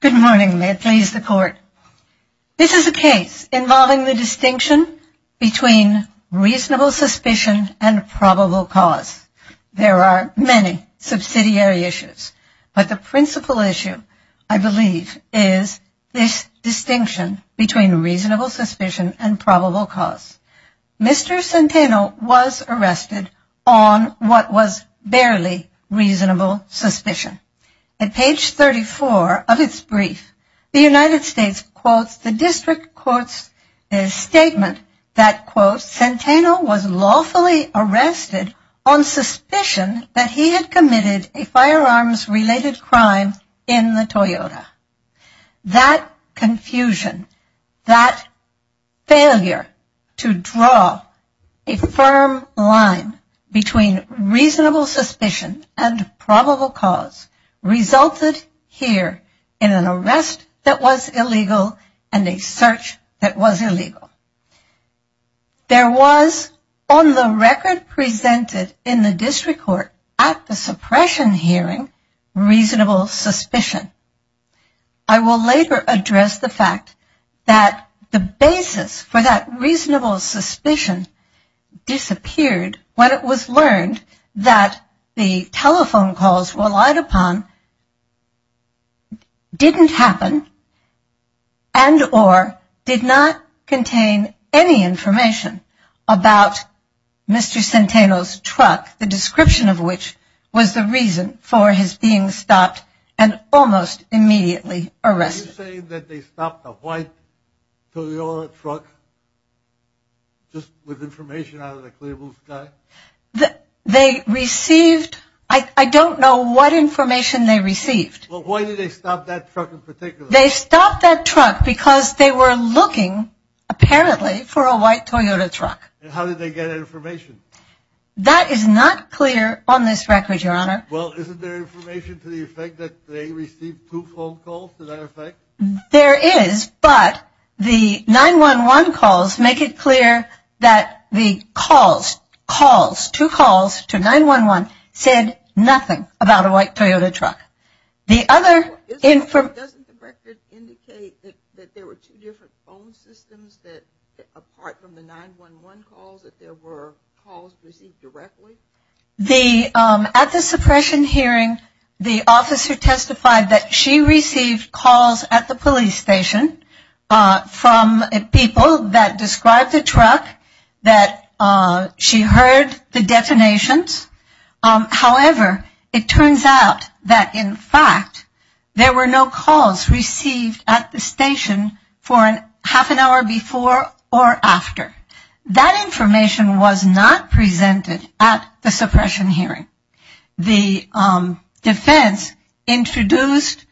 Good morning. May it please the court. This is a case involving the distinction between reasonable suspicion and probable cause. There are many subsidiary issues, but the principle of the case is that there is a reasonable suspicion and there is a probable cause. The principle issue, I believe, is this distinction between reasonable suspicion and probable cause. Mr. Centeno was arrested on what was barely reasonable suspicion. At page 34 of its brief, the United States quotes the district court's statement that, quote, Centeno was lawfully arrested on suspicion that he had committed a firearms-related crime in the United States. That confusion, that failure to draw a firm line between reasonable suspicion and probable cause resulted here in an arrest that was illegal and a search that was illegal. There was, on the record presented in the district court at the suppression hearing, reasonable suspicion. I will later address the fact that the basis for that reasonable suspicion disappeared when it was learned that the telephone calls relied upon didn't happen and or did not contain a reasonable suspicion. I will later address the fact that the telephone calls relied upon didn't happen when it was learned that the telephone calls relied upon didn't happen and or did not contain any information about Mr. Centeno's truck, the description of which was the reason for his being stopped and almost immediately arrested. You're saying that they stopped a white Toyota truck just with information out of the clear blue sky? They received, I don't know what information they received. Well, why did they stop that truck in particular? They stopped that truck because they were looking, apparently, for a white Toyota truck. And how did they get information? That is not clear on this record, Your Honor. Well, isn't there information to the effect that they received two phone calls to that effect? There is, but the 911 calls make it clear that the calls, calls, two calls to 911 said nothing about a white Toyota truck. Doesn't the record indicate that there were two different phone systems that, apart from the 911 calls, that there were calls received directly? At the suppression hearing, the officer testified that she received calls at the police station from people that described the truck, that she heard the detonations. However, it turns out that, in fact, there were no calls received at the station for half an hour before or after. That information was not presented at the suppression hearing. The defense introduced,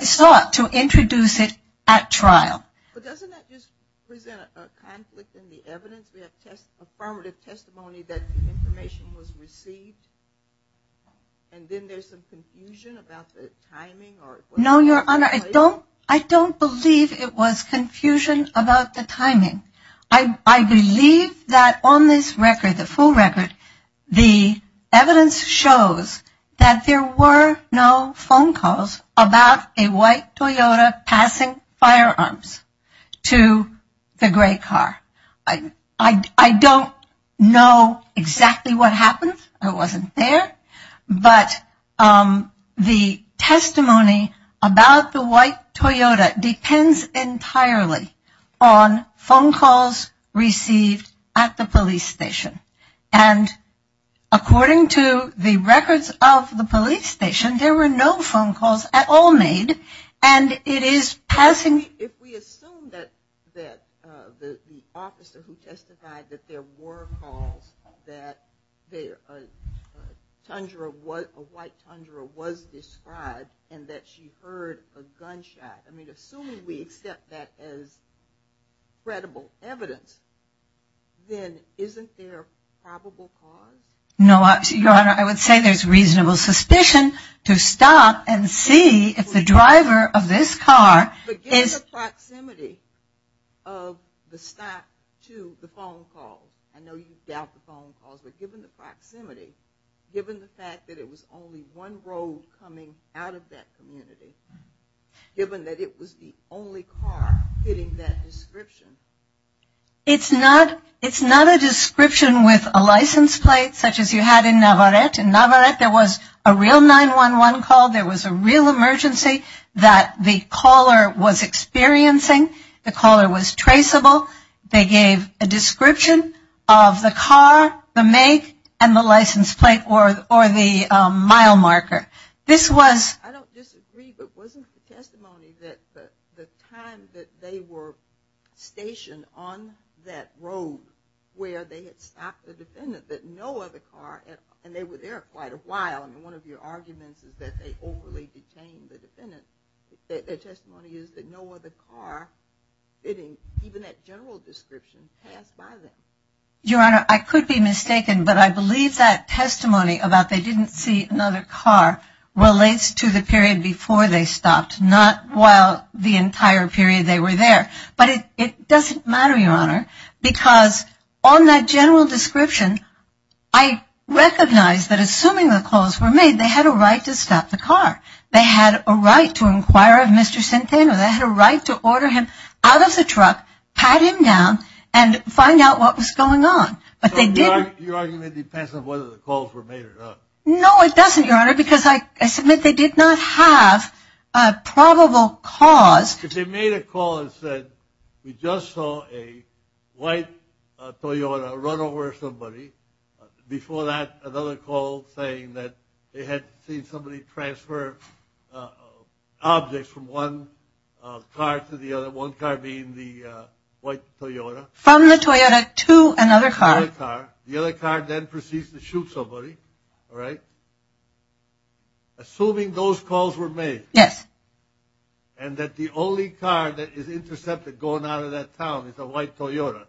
sought to introduce it at trial. But doesn't that just present a conflict in the evidence? We have affirmative testimony that the information was received, and then there's some confusion about the timing? No, Your Honor. I don't believe it was confusion about the timing. I believe that on this record, the full record, the evidence shows that there were no phone calls about a white Toyota passing firearms to the gray car. I don't know exactly what happened. I wasn't there. But the testimony about the white Toyota depends entirely on phone calls received at the police station. And according to the records of the police station, there were no phone calls at all made. If we assume that the officer who testified that there were calls, that a white Tundra was described and that she heard a gunshot, I mean, assuming we accept that as credible evidence, then isn't there a probable cause? No, Your Honor. I would say there's reasonable suspicion to stop and see if the driver of this car is... But given the proximity of the stop to the phone call, I know you doubt the phone calls, but given the proximity, given the fact that it was only one road coming out of that community, given that it was the only car hitting that description... It's not a description with a license plate such as you had in Navarrete. In Navarrete, there was a real 911 call. There was a real emergency that the caller was experiencing. The caller was traceable. They gave a description of the car, the make, and the license plate or the mile marker. I don't disagree, but wasn't the testimony that the time that they were stationed on that road where they had stopped the defendant, that no other car... And they were there quite a while, and one of your arguments is that they overly detained the defendant. Their testimony is that no other car, even that general description, passed by them. Your Honor, I could be mistaken, but I believe that testimony about they didn't see another car relates to the period before they stopped, not while the entire period they were there. But it doesn't matter, Your Honor, because on that general description, I recognize that assuming the calls were made, they had a right to stop the car. They had a right to inquire of Mr. Centeno. They had a right to order him out of the truck, pat him down, and find out what was going on. But they didn't... Your argument depends on whether the calls were made or not. No, it doesn't, Your Honor, because I submit they did not have a probable cause. If they made a call and said, we just saw a white Toyota run over somebody, before that another call saying that they had seen somebody transfer objects from one car to the other, one car being the white Toyota. From the Toyota to another car. The other car. The other car then proceeds to shoot somebody. All right? Assuming those calls were made. Yes. And that the only car that is intercepted going out of that town is a white Toyota,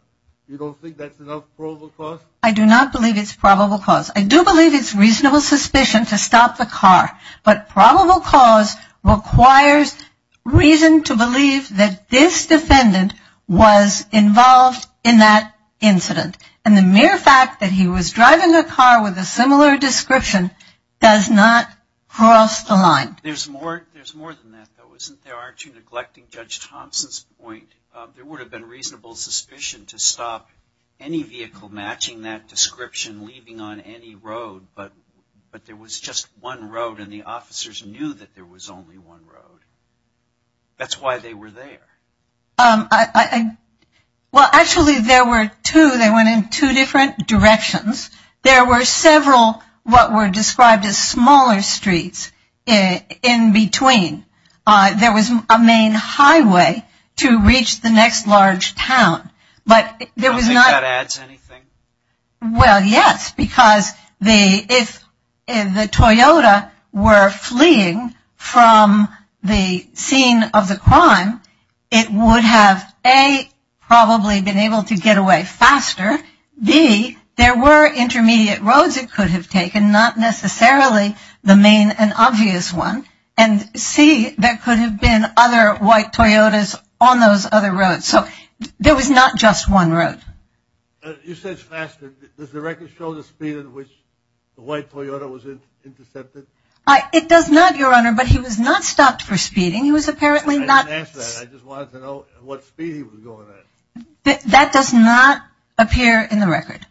you don't think that's an unprovable cause? I do not believe it's a probable cause. I do believe it's reasonable suspicion to stop the car. But probable cause requires reason to believe that this defendant was involved in that incident. And the mere fact that he was driving a car with a similar description does not cross the line. There's more than that, though, isn't there? Aren't you neglecting Judge Thompson's point? There would have been reasonable suspicion to stop any vehicle matching that description leaving on any road, but there was just one road and the officers knew that there was only one road. That's why they were there. Well, actually, there were two. They went in two different directions. There were several what were described as smaller streets in between. There was a main highway to reach the next large town. I don't think that adds anything. Well, yes, because if the Toyota were fleeing from the scene of the crime, it would have, A, probably been able to get away faster. B, there were intermediate roads it could have taken, not necessarily the main and obvious one. And C, there could have been other white Toyotas on those other roads. So there was not just one road. You said faster. Does the record show the speed at which the white Toyota was intercepted? It does not, Your Honor, but he was not stopped for speeding. He was apparently not. I didn't ask that. I just wanted to know what speed he was going at. That does not appear in the record.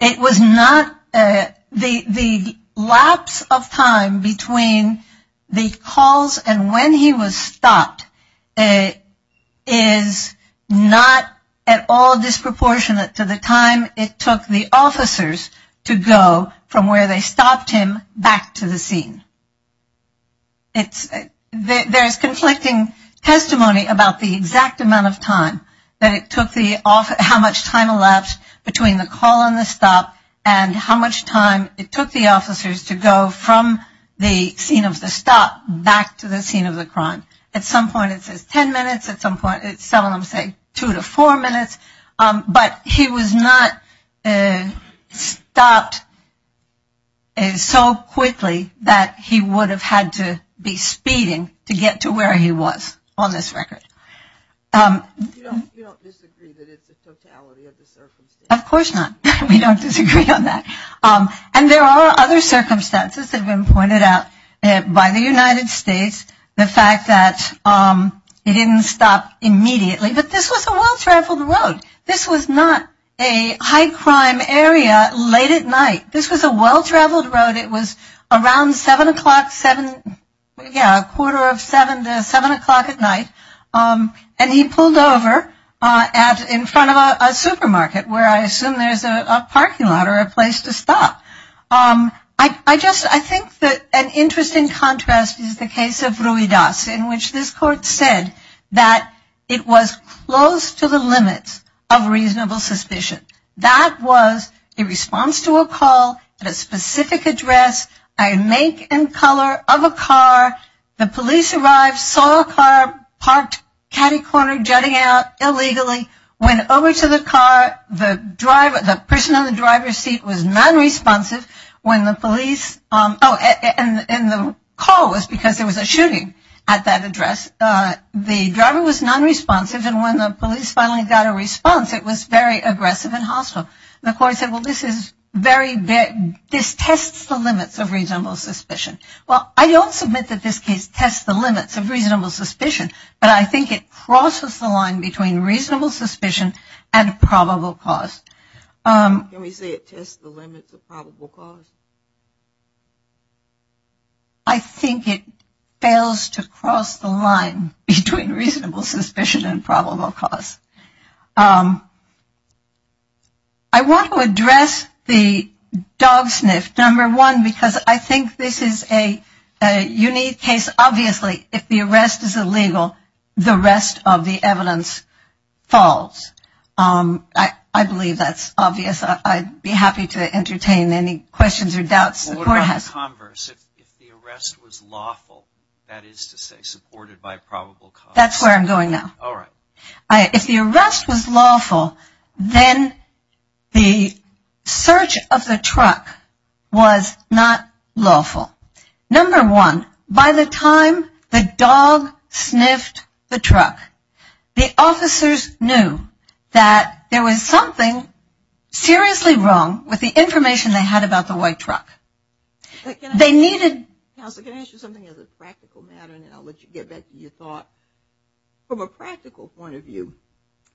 It was not. The lapse of time between the calls and when he was stopped is not at all disproportionate to the time it took the officers to go from where they stopped him back to the scene. There is conflicting testimony about the exact amount of time, how much time elapsed between the call and the stop, and how much time it took the officers to go from the scene of the stop back to the scene of the crime. At some point it says ten minutes. At some point some of them say two to four minutes. But he was not stopped so quickly that he would have had to be speeding to get to where he was on this record. You don't disagree that it's a totality of the circumstances? Of course not. We don't disagree on that. And there are other circumstances that have been pointed out by the United States. The fact that he didn't stop immediately. But this was a well-traveled road. This was not a high-crime area late at night. This was a well-traveled road. It was around 7 o'clock, yeah, a quarter of 7 to 7 o'clock at night. And he pulled over in front of a supermarket where I assume there's a parking lot or a place to stop. I think that an interesting contrast is the case of Ruidas in which this court said that it was close to the limits of reasonable suspicion. That was a response to a call at a specific address, a make and color of a car. The police arrived, saw a car parked catty-corner jutting out illegally, went over to the car. The person in the driver's seat was non-responsive when the police – and the call was because there was a shooting at that address. The driver was non-responsive. And when the police finally got a response, it was very aggressive and hostile. The court said, well, this is very – this tests the limits of reasonable suspicion. Well, I don't submit that this case tests the limits of reasonable suspicion, but I think it crosses the line between reasonable suspicion and probable cause. Can we say it tests the limits of probable cause? I think it fails to cross the line between reasonable suspicion and probable cause. I want to address the dog sniff, number one, because I think this is a unique case. Obviously, if the arrest is illegal, the rest of the evidence falls. I believe that's obvious. I'd be happy to entertain any questions or doubts the court has. Well, what about the converse? If the arrest was lawful, that is to say supported by probable cause? That's where I'm going now. All right. If the arrest was lawful, then the search of the truck was not lawful. Number one, by the time the dog sniffed the truck, the officers knew that there was something seriously wrong with the information they had about the white truck. They needed – Counselor, can I ask you something as a practical matter, and then I'll let you get back to your thought? From a practical point of view,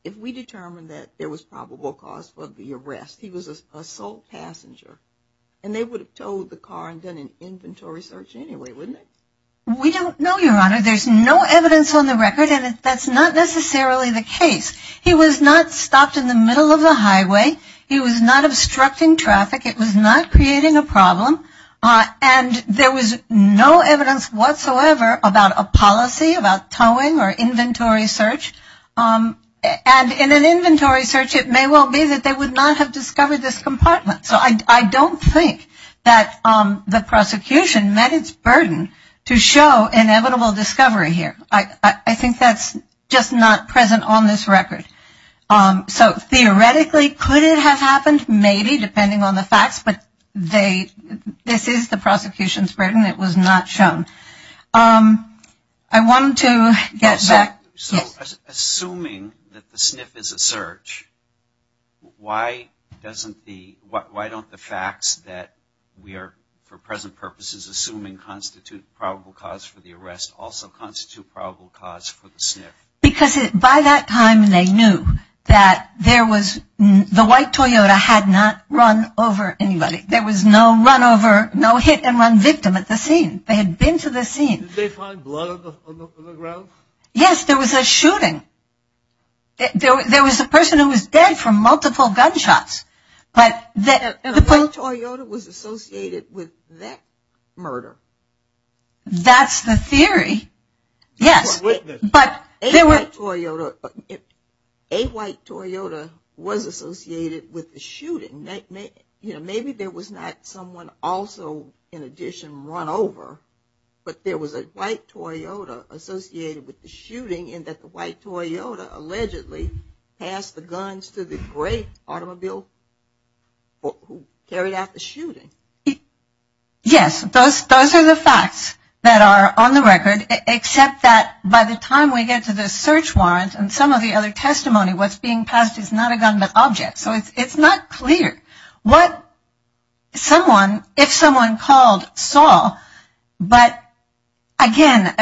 if we determined that there was probable cause for the arrest, he was a sole passenger, and they would have towed the car and done an inventory search anyway, wouldn't they? We don't know, Your Honor. There's no evidence on the record, and that's not necessarily the case. He was not stopped in the middle of the highway. He was not obstructing traffic. It was not creating a problem. And there was no evidence whatsoever about a policy, about towing or inventory search. And in an inventory search, it may well be that they would not have discovered this compartment. So I don't think that the prosecution met its burden to show inevitable discovery here. I think that's just not present on this record. So theoretically, could it have happened? Maybe, depending on the facts. But this is the prosecution's burden. It was not shown. I want to get back. So assuming that the SNF is a search, why don't the facts that we are, for present purposes, assuming constitute probable cause for the arrest, also constitute probable cause for the SNF? Because by that time they knew that there was, the white Toyota had not run over anybody. There was no run over, no hit and run victim at the scene. They had been to the scene. Did they find blood on the ground? Yes, there was a shooting. There was a person who was dead from multiple gunshots. The white Toyota was associated with that murder. That's the theory, yes. A white Toyota was associated with the shooting. Maybe there was not someone also, in addition, run over, but there was a white Toyota associated with the shooting and that the white Toyota allegedly passed the guns to the gray automobile who carried out the shooting. Yes, those are the facts that are on the record, except that by the time we get to the search warrant and some of the other testimony, what's being passed is not a gun but object. So it's not clear what someone, if someone called, saw. But, again,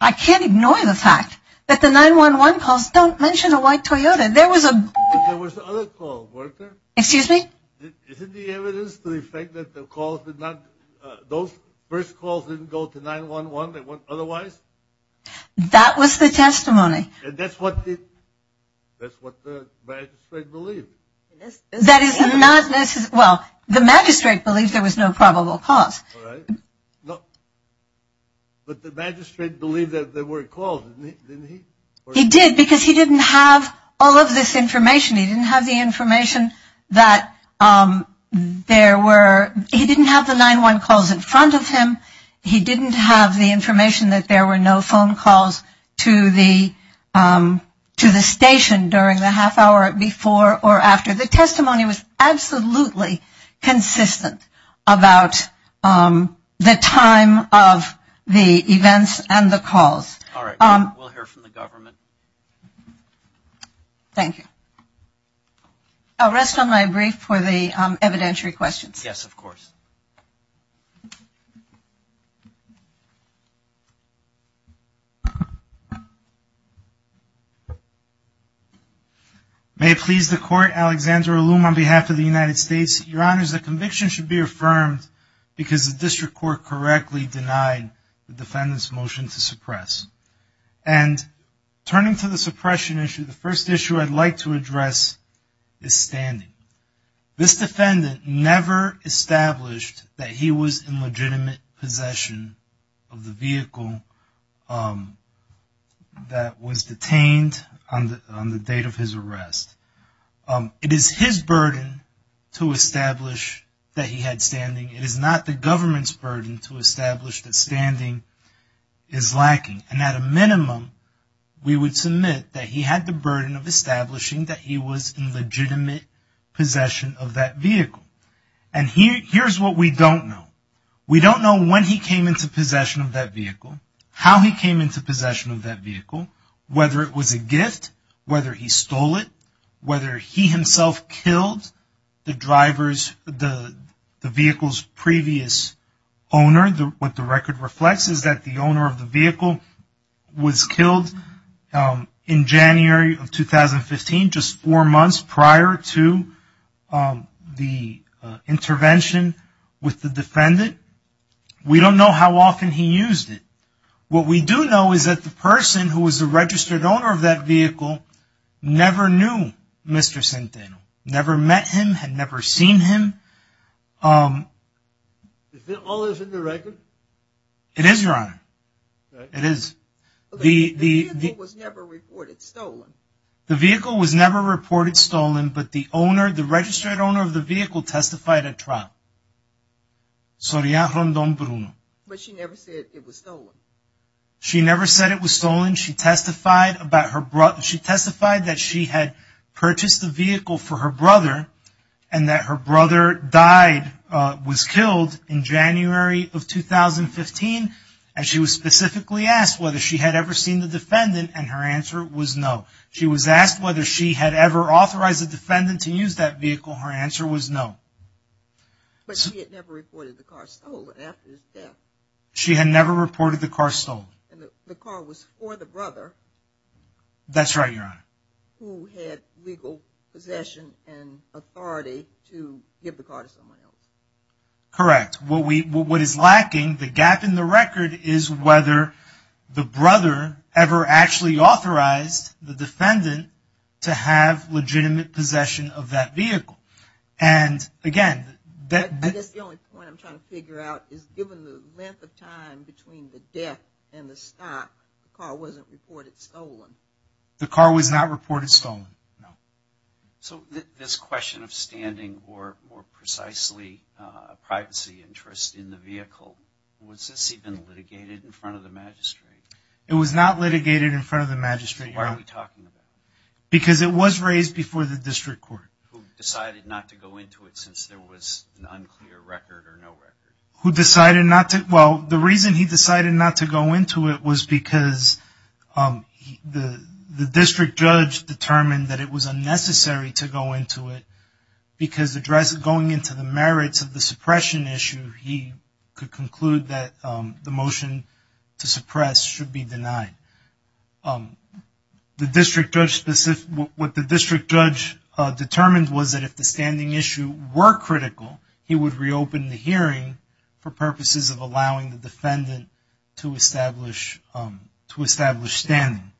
I can't ignore the fact that the 911 calls don't mention a white Toyota. There was a... There was other calls, weren't there? Excuse me? Isn't the evidence to the effect that the calls did not, those first calls didn't go to 911, they went otherwise? That was the testimony. And that's what the magistrate believed. That is not, well, the magistrate believed there was no probable cause. All right. But the magistrate believed that there were calls, didn't he? He did because he didn't have all of this information. He didn't have the information that there were, he didn't have the 911 calls in front of him. He didn't have the information that there were no phone calls to the station during the half hour before or after. The testimony was absolutely consistent about the time of the events and the calls. All right. We'll hear from the government. Thank you. I'll rest on my brief for the evidentiary questions. Yes, of course. May it please the Court, Alexander Ulum on behalf of the United States. Your Honors, the conviction should be affirmed because the district court correctly denied the defendant's motion to suppress. And turning to the suppression issue, the first issue I'd like to address is standing. This defendant never established that he was in legitimate possession of the vehicle that was detained on the date of his arrest. It is his burden to establish that he had standing. It is not the government's burden to establish that standing is lacking. And at a minimum, we would submit that he had the burden of establishing that he was in legitimate possession of that vehicle. And here's what we don't know. We don't know when he came into possession of that vehicle, how he came into possession of that vehicle, whether it was a gift, whether he stole it, whether he himself killed the vehicle's previous owner. What the record reflects is that the owner of the vehicle was killed in January of 2015, just four months prior to the intervention with the defendant. We don't know how often he used it. What we do know is that the person who was the registered owner of that Mr. Centeno never met him, had never seen him. Is that all that's in the record? It is, Your Honor. It is. The vehicle was never reported stolen. The vehicle was never reported stolen, but the registered owner of the vehicle testified at trial. Soraya Rondon Bruno. But she never said it was stolen. She never said it was stolen. She testified that she had purchased the vehicle for her brother, and that her brother died, was killed in January of 2015, and she was specifically asked whether she had ever seen the defendant, and her answer was no. She was asked whether she had ever authorized the defendant to use that vehicle. Her answer was no. But she had never reported the car stolen after his death. She had never reported the car stolen. And the car was for the brother. That's right, Your Honor. Who had legal possession and authority to give the car to someone else. Correct. What is lacking, the gap in the record, is whether the brother ever actually authorized the defendant to have legitimate possession of that vehicle. And, again, that... I guess the only point I'm trying to figure out is, given the length of time between the death and the stop, the car wasn't reported stolen. The car was not reported stolen, no. So this question of standing, or more precisely privacy interest in the vehicle, was this even litigated in front of the magistrate? It was not litigated in front of the magistrate, Your Honor. Then why are we talking about it? Because it was raised before the district court. Who decided not to go into it since there was an unclear record or no record. Who decided not to... Well, the reason he decided not to go into it was because the district judge determined that it was unnecessary to go into it, because going into the merits of the suppression issue, he could conclude that the motion to suppress should be denied. What the district judge determined was that if the standing issue were critical, he would reopen the hearing for purposes of allowing the defendant to establish standing.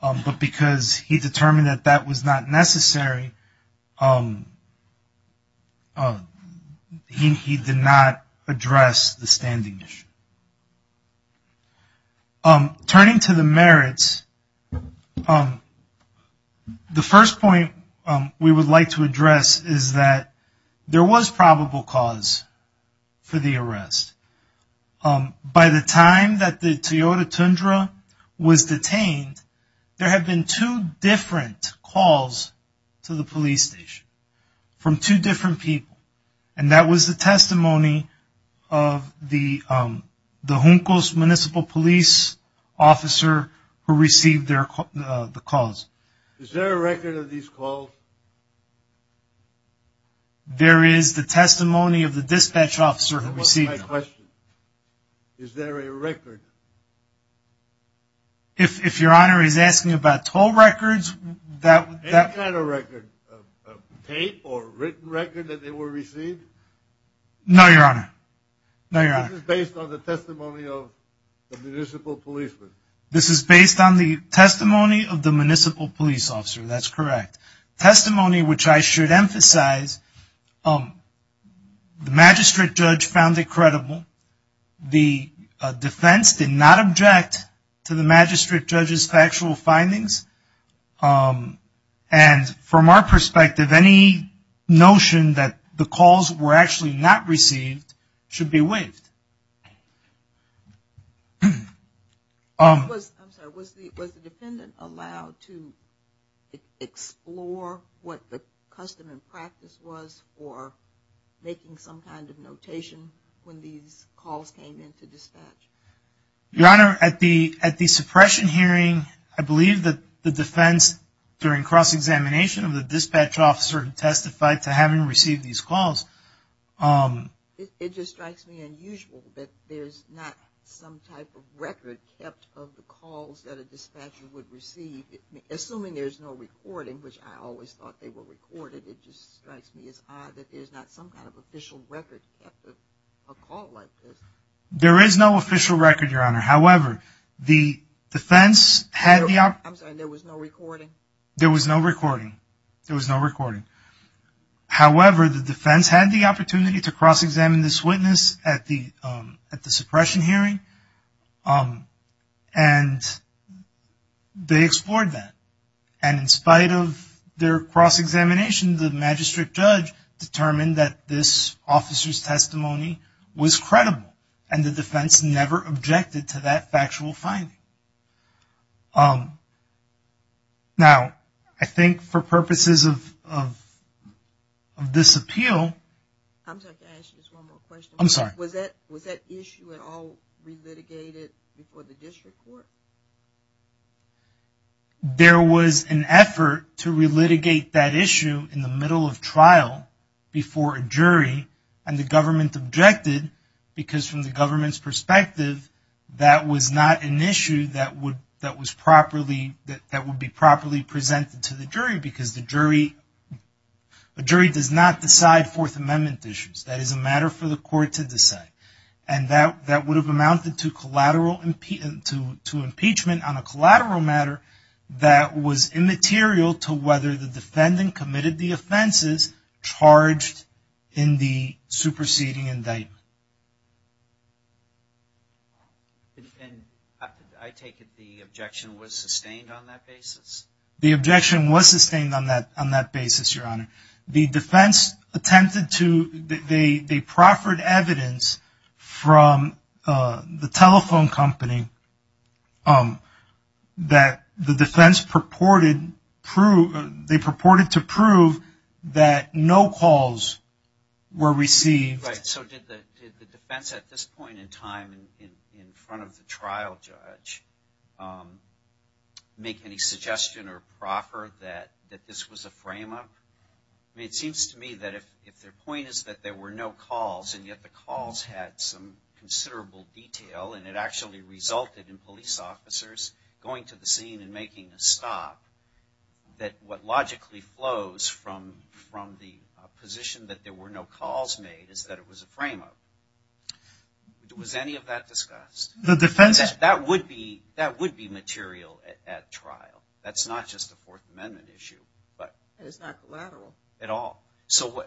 But because he determined that that was not necessary, he did not address the standing issue. Turning to the merits, the first point we would like to address is that there was probable cause for the arrest. By the time that the Toyota Tundra was detained, there had been two different calls to the police station from two different people. And that was the testimony of the Juncos municipal police officer who received the calls. Is there a record of these calls? There is the testimony of the dispatch officer who received them. That wasn't my question. Is there a record? If your honor is asking about toll records... Any kind of record, a paid or written record that they were received? No, your honor. No, your honor. This is based on the testimony of the municipal policeman? This is based on the testimony of the municipal police officer. That's correct. Testimony which I should emphasize, the magistrate judge found it credible. The defense did not object to the magistrate judge's factual findings. And from our perspective, any notion that the calls were actually not received should be waived. Was the defendant allowed to explore what the custom and practice was for making some kind of notation when these calls came in to dispatch? Your honor, at the suppression hearing, I believe that the defense during cross-examination of the dispatch officer testified to having received these calls. It just strikes me unusual that there's not some type of record kept of the calls that a dispatcher would receive. Assuming there's no recording, which I always thought they were recorded, it just strikes me as odd that there's not some kind of official record kept of a call like this. There is no official record, your honor. However, the defense had the... I'm sorry, there was no recording? There was no recording. There was no recording. However, the defense had the opportunity to cross-examine this witness at the suppression hearing, and they explored that. And in spite of their cross-examination, the magistrate judge determined that this officer's testimony was credible, and the defense never objected to that factual finding. Now, I think for purposes of this appeal... I'm sorry, can I ask you just one more question? I'm sorry. Was that issue at all re-litigated before the district court? There was an effort to re-litigate that issue in the middle of trial before a jury, and the government objected because from the government's perspective, that was not an issue that would be properly presented to the jury, because a jury does not decide Fourth Amendment issues. That is a matter for the court to decide. And that would have amounted to impeachment on a collateral matter that was immaterial to whether the defendant committed the offenses charged in the And I take it the objection was sustained on that basis? The objection was sustained on that basis, Your Honor. The defense attempted to... They proffered evidence from the telephone company that the defense purported to prove that no calls were received. Right, so did the defense at this point in time in front of the trial judge make any suggestion or proffer that this was a frame-up? I mean, it seems to me that if their point is that there were no calls, and yet the calls had some considerable detail, and it actually resulted in police officers going to the scene and making a stop, that what logically flows from the position that there were no calls made is that it was a frame-up. Was any of that discussed? That would be material at trial. That's not just a Fourth Amendment issue. It's not collateral. At all. So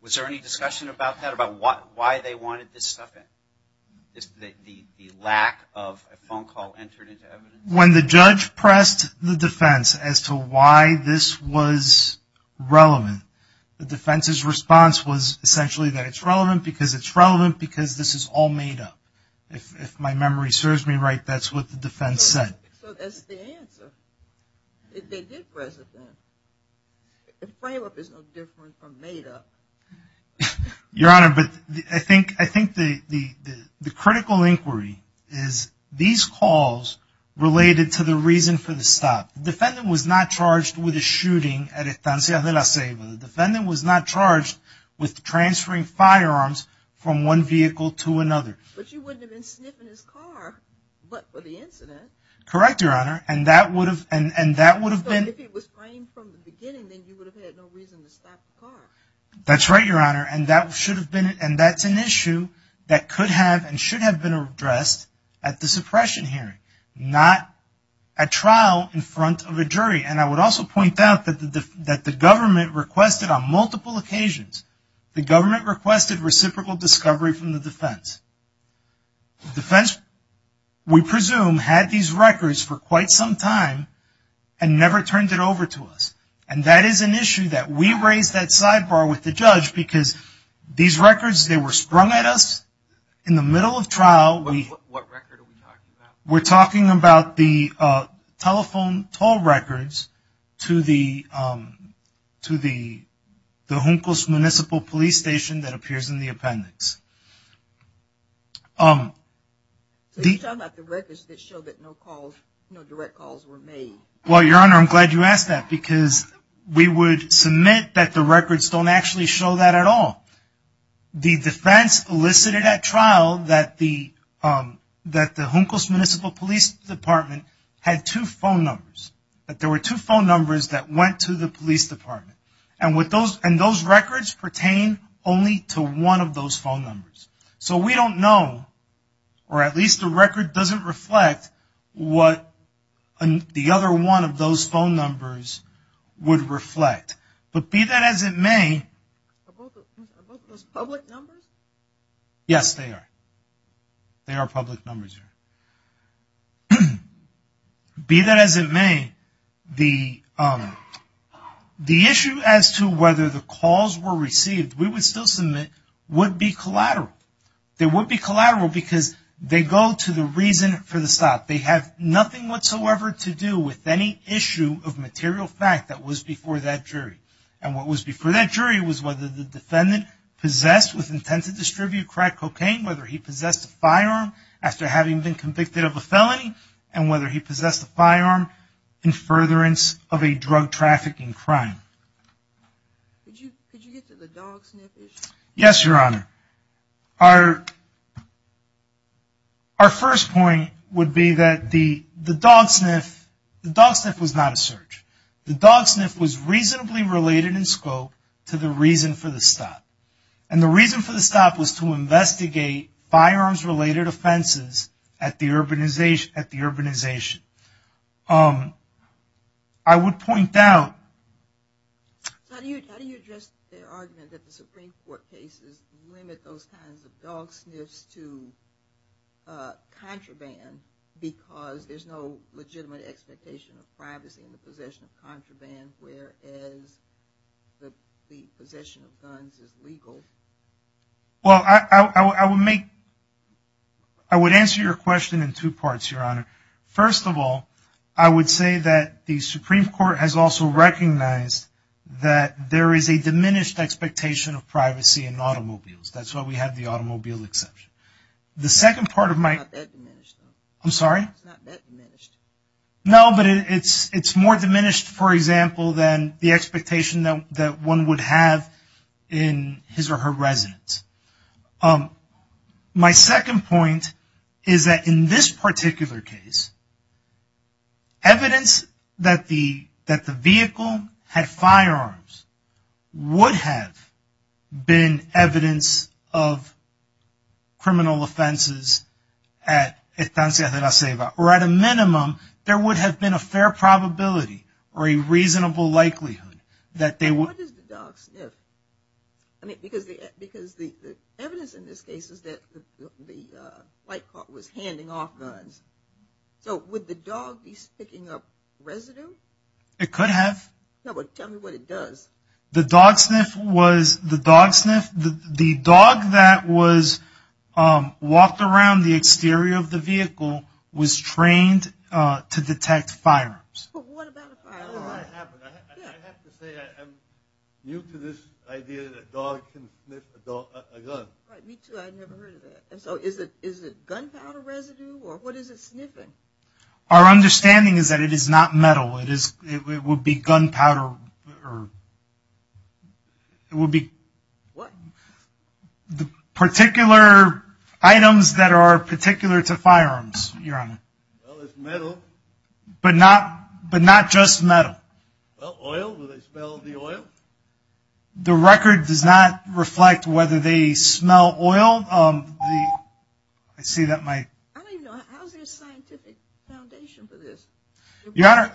was there any discussion about that, about why they wanted this stuff in? The lack of a phone call entered into evidence? When the judge pressed the defense as to why this was relevant, the defense's response was essentially that it's relevant because it's relevant because this is all made up. If my memory serves me right, that's what the defense said. So that's the answer. They did press it then. A frame-up is no different from made up. Your Honor, I think the critical inquiry is these calls related to the reason for the stop. The defendant was not charged with a shooting at Estancia de la Ceiba. The defendant was not charged with transferring firearms from one vehicle to another. But you wouldn't have been sniffing his car but for the incident. Correct, Your Honor. And that would have been. So if it was framed from the beginning, then you would have had no reason to stop the car. That's right, Your Honor. And that's an issue that could have and should have been addressed at the suppression hearing. Not at trial in front of a jury. And I would also point out that the government requested on multiple occasions, the government requested reciprocal discovery from the defense. The defense, we presume, had these records for quite some time and never turned it over to us. And that is an issue that we raised that sidebar with the judge because these records, they were sprung at us in the middle of trial. What record are we talking about? We're talking about the telephone toll records to the Juncos Municipal Police Station that appears in the appendix. So you're talking about the records that show that no calls, no direct calls were made. Well, Your Honor, I'm glad you asked that because we would submit that the records don't actually show that at all. The defense elicited at trial that the Juncos Municipal Police Department had two phone numbers. That there were two phone numbers that went to the police department. And those records pertain only to one of those phone numbers. So we don't know, or at least the record doesn't reflect what the other one of those phone numbers would reflect. But be that as it may. Are both of those public numbers? Yes, they are. They are public numbers, Your Honor. Be that as it may, the issue as to whether the calls were received, we would still submit, would be collateral. They would be collateral because they go to the reason for the stop. They have nothing whatsoever to do with any issue of material fact that was before that jury. And what was before that jury was whether the defendant possessed with intent to distribute crack cocaine, whether he possessed a firearm after having been convicted of a felony, and whether he possessed a firearm in furtherance of a drug trafficking crime. Could you get to the dog sniff issue? Yes, Your Honor. Our first point would be that the dog sniff was not a search. The dog sniff was reasonably related in scope to the reason for the stop. And the reason for the stop was to investigate firearms-related offenses at the urbanization. I would point out... How do you address the argument that the Supreme Court cases limit those kinds of dog sniffs to contraband because there's no legitimate expectation of privacy in the possession of contraband, whereas the possession of guns is legal? Well, I would make... I would answer your question in two parts, Your Honor. First of all, I would say that the Supreme Court has also recognized that there is a diminished expectation of privacy in automobiles. That's why we have the automobile exception. The second part of my... I'm sorry? It's not that diminished. No, but it's more diminished, for example, than the expectation that one would have in his or her residence. My second point is that in this particular case, evidence that the vehicle had firearms would have been evidence of criminal offenses at Estancia de la Ceiba. Or at a minimum, there would have been a fair probability or a reasonable likelihood that they would... Why does the dog sniff? I mean, because the evidence in this case is that the flight court was handing off guns. So would the dog be picking up residue? It could have. No, but tell me what it does. The dog sniff was... walked around the exterior of the vehicle, was trained to detect firearms. But what about a firearm? I have to say I'm new to this idea that a dog can sniff a gun. Right, me too. I'd never heard of that. So is it gunpowder residue? Or what is it sniffing? Our understanding is that it is not metal. It would be gunpowder. It would be... What? Particular items that are particular to firearms, Your Honor. Well, it's metal. But not just metal. Well, oil. Do they smell the oil? The record does not reflect whether they smell oil. I see that my... How is there a scientific foundation for this? Your Honor,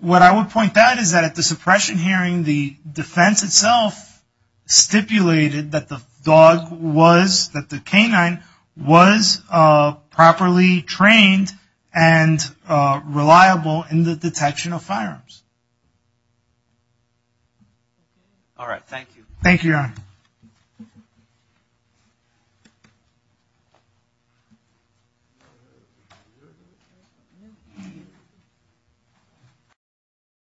what I would point out is that at the suppression hearing, the defense itself stipulated that the dog was, that the canine was properly trained and reliable in the detection of firearms. All right, thank you. Thank you, Your Honor.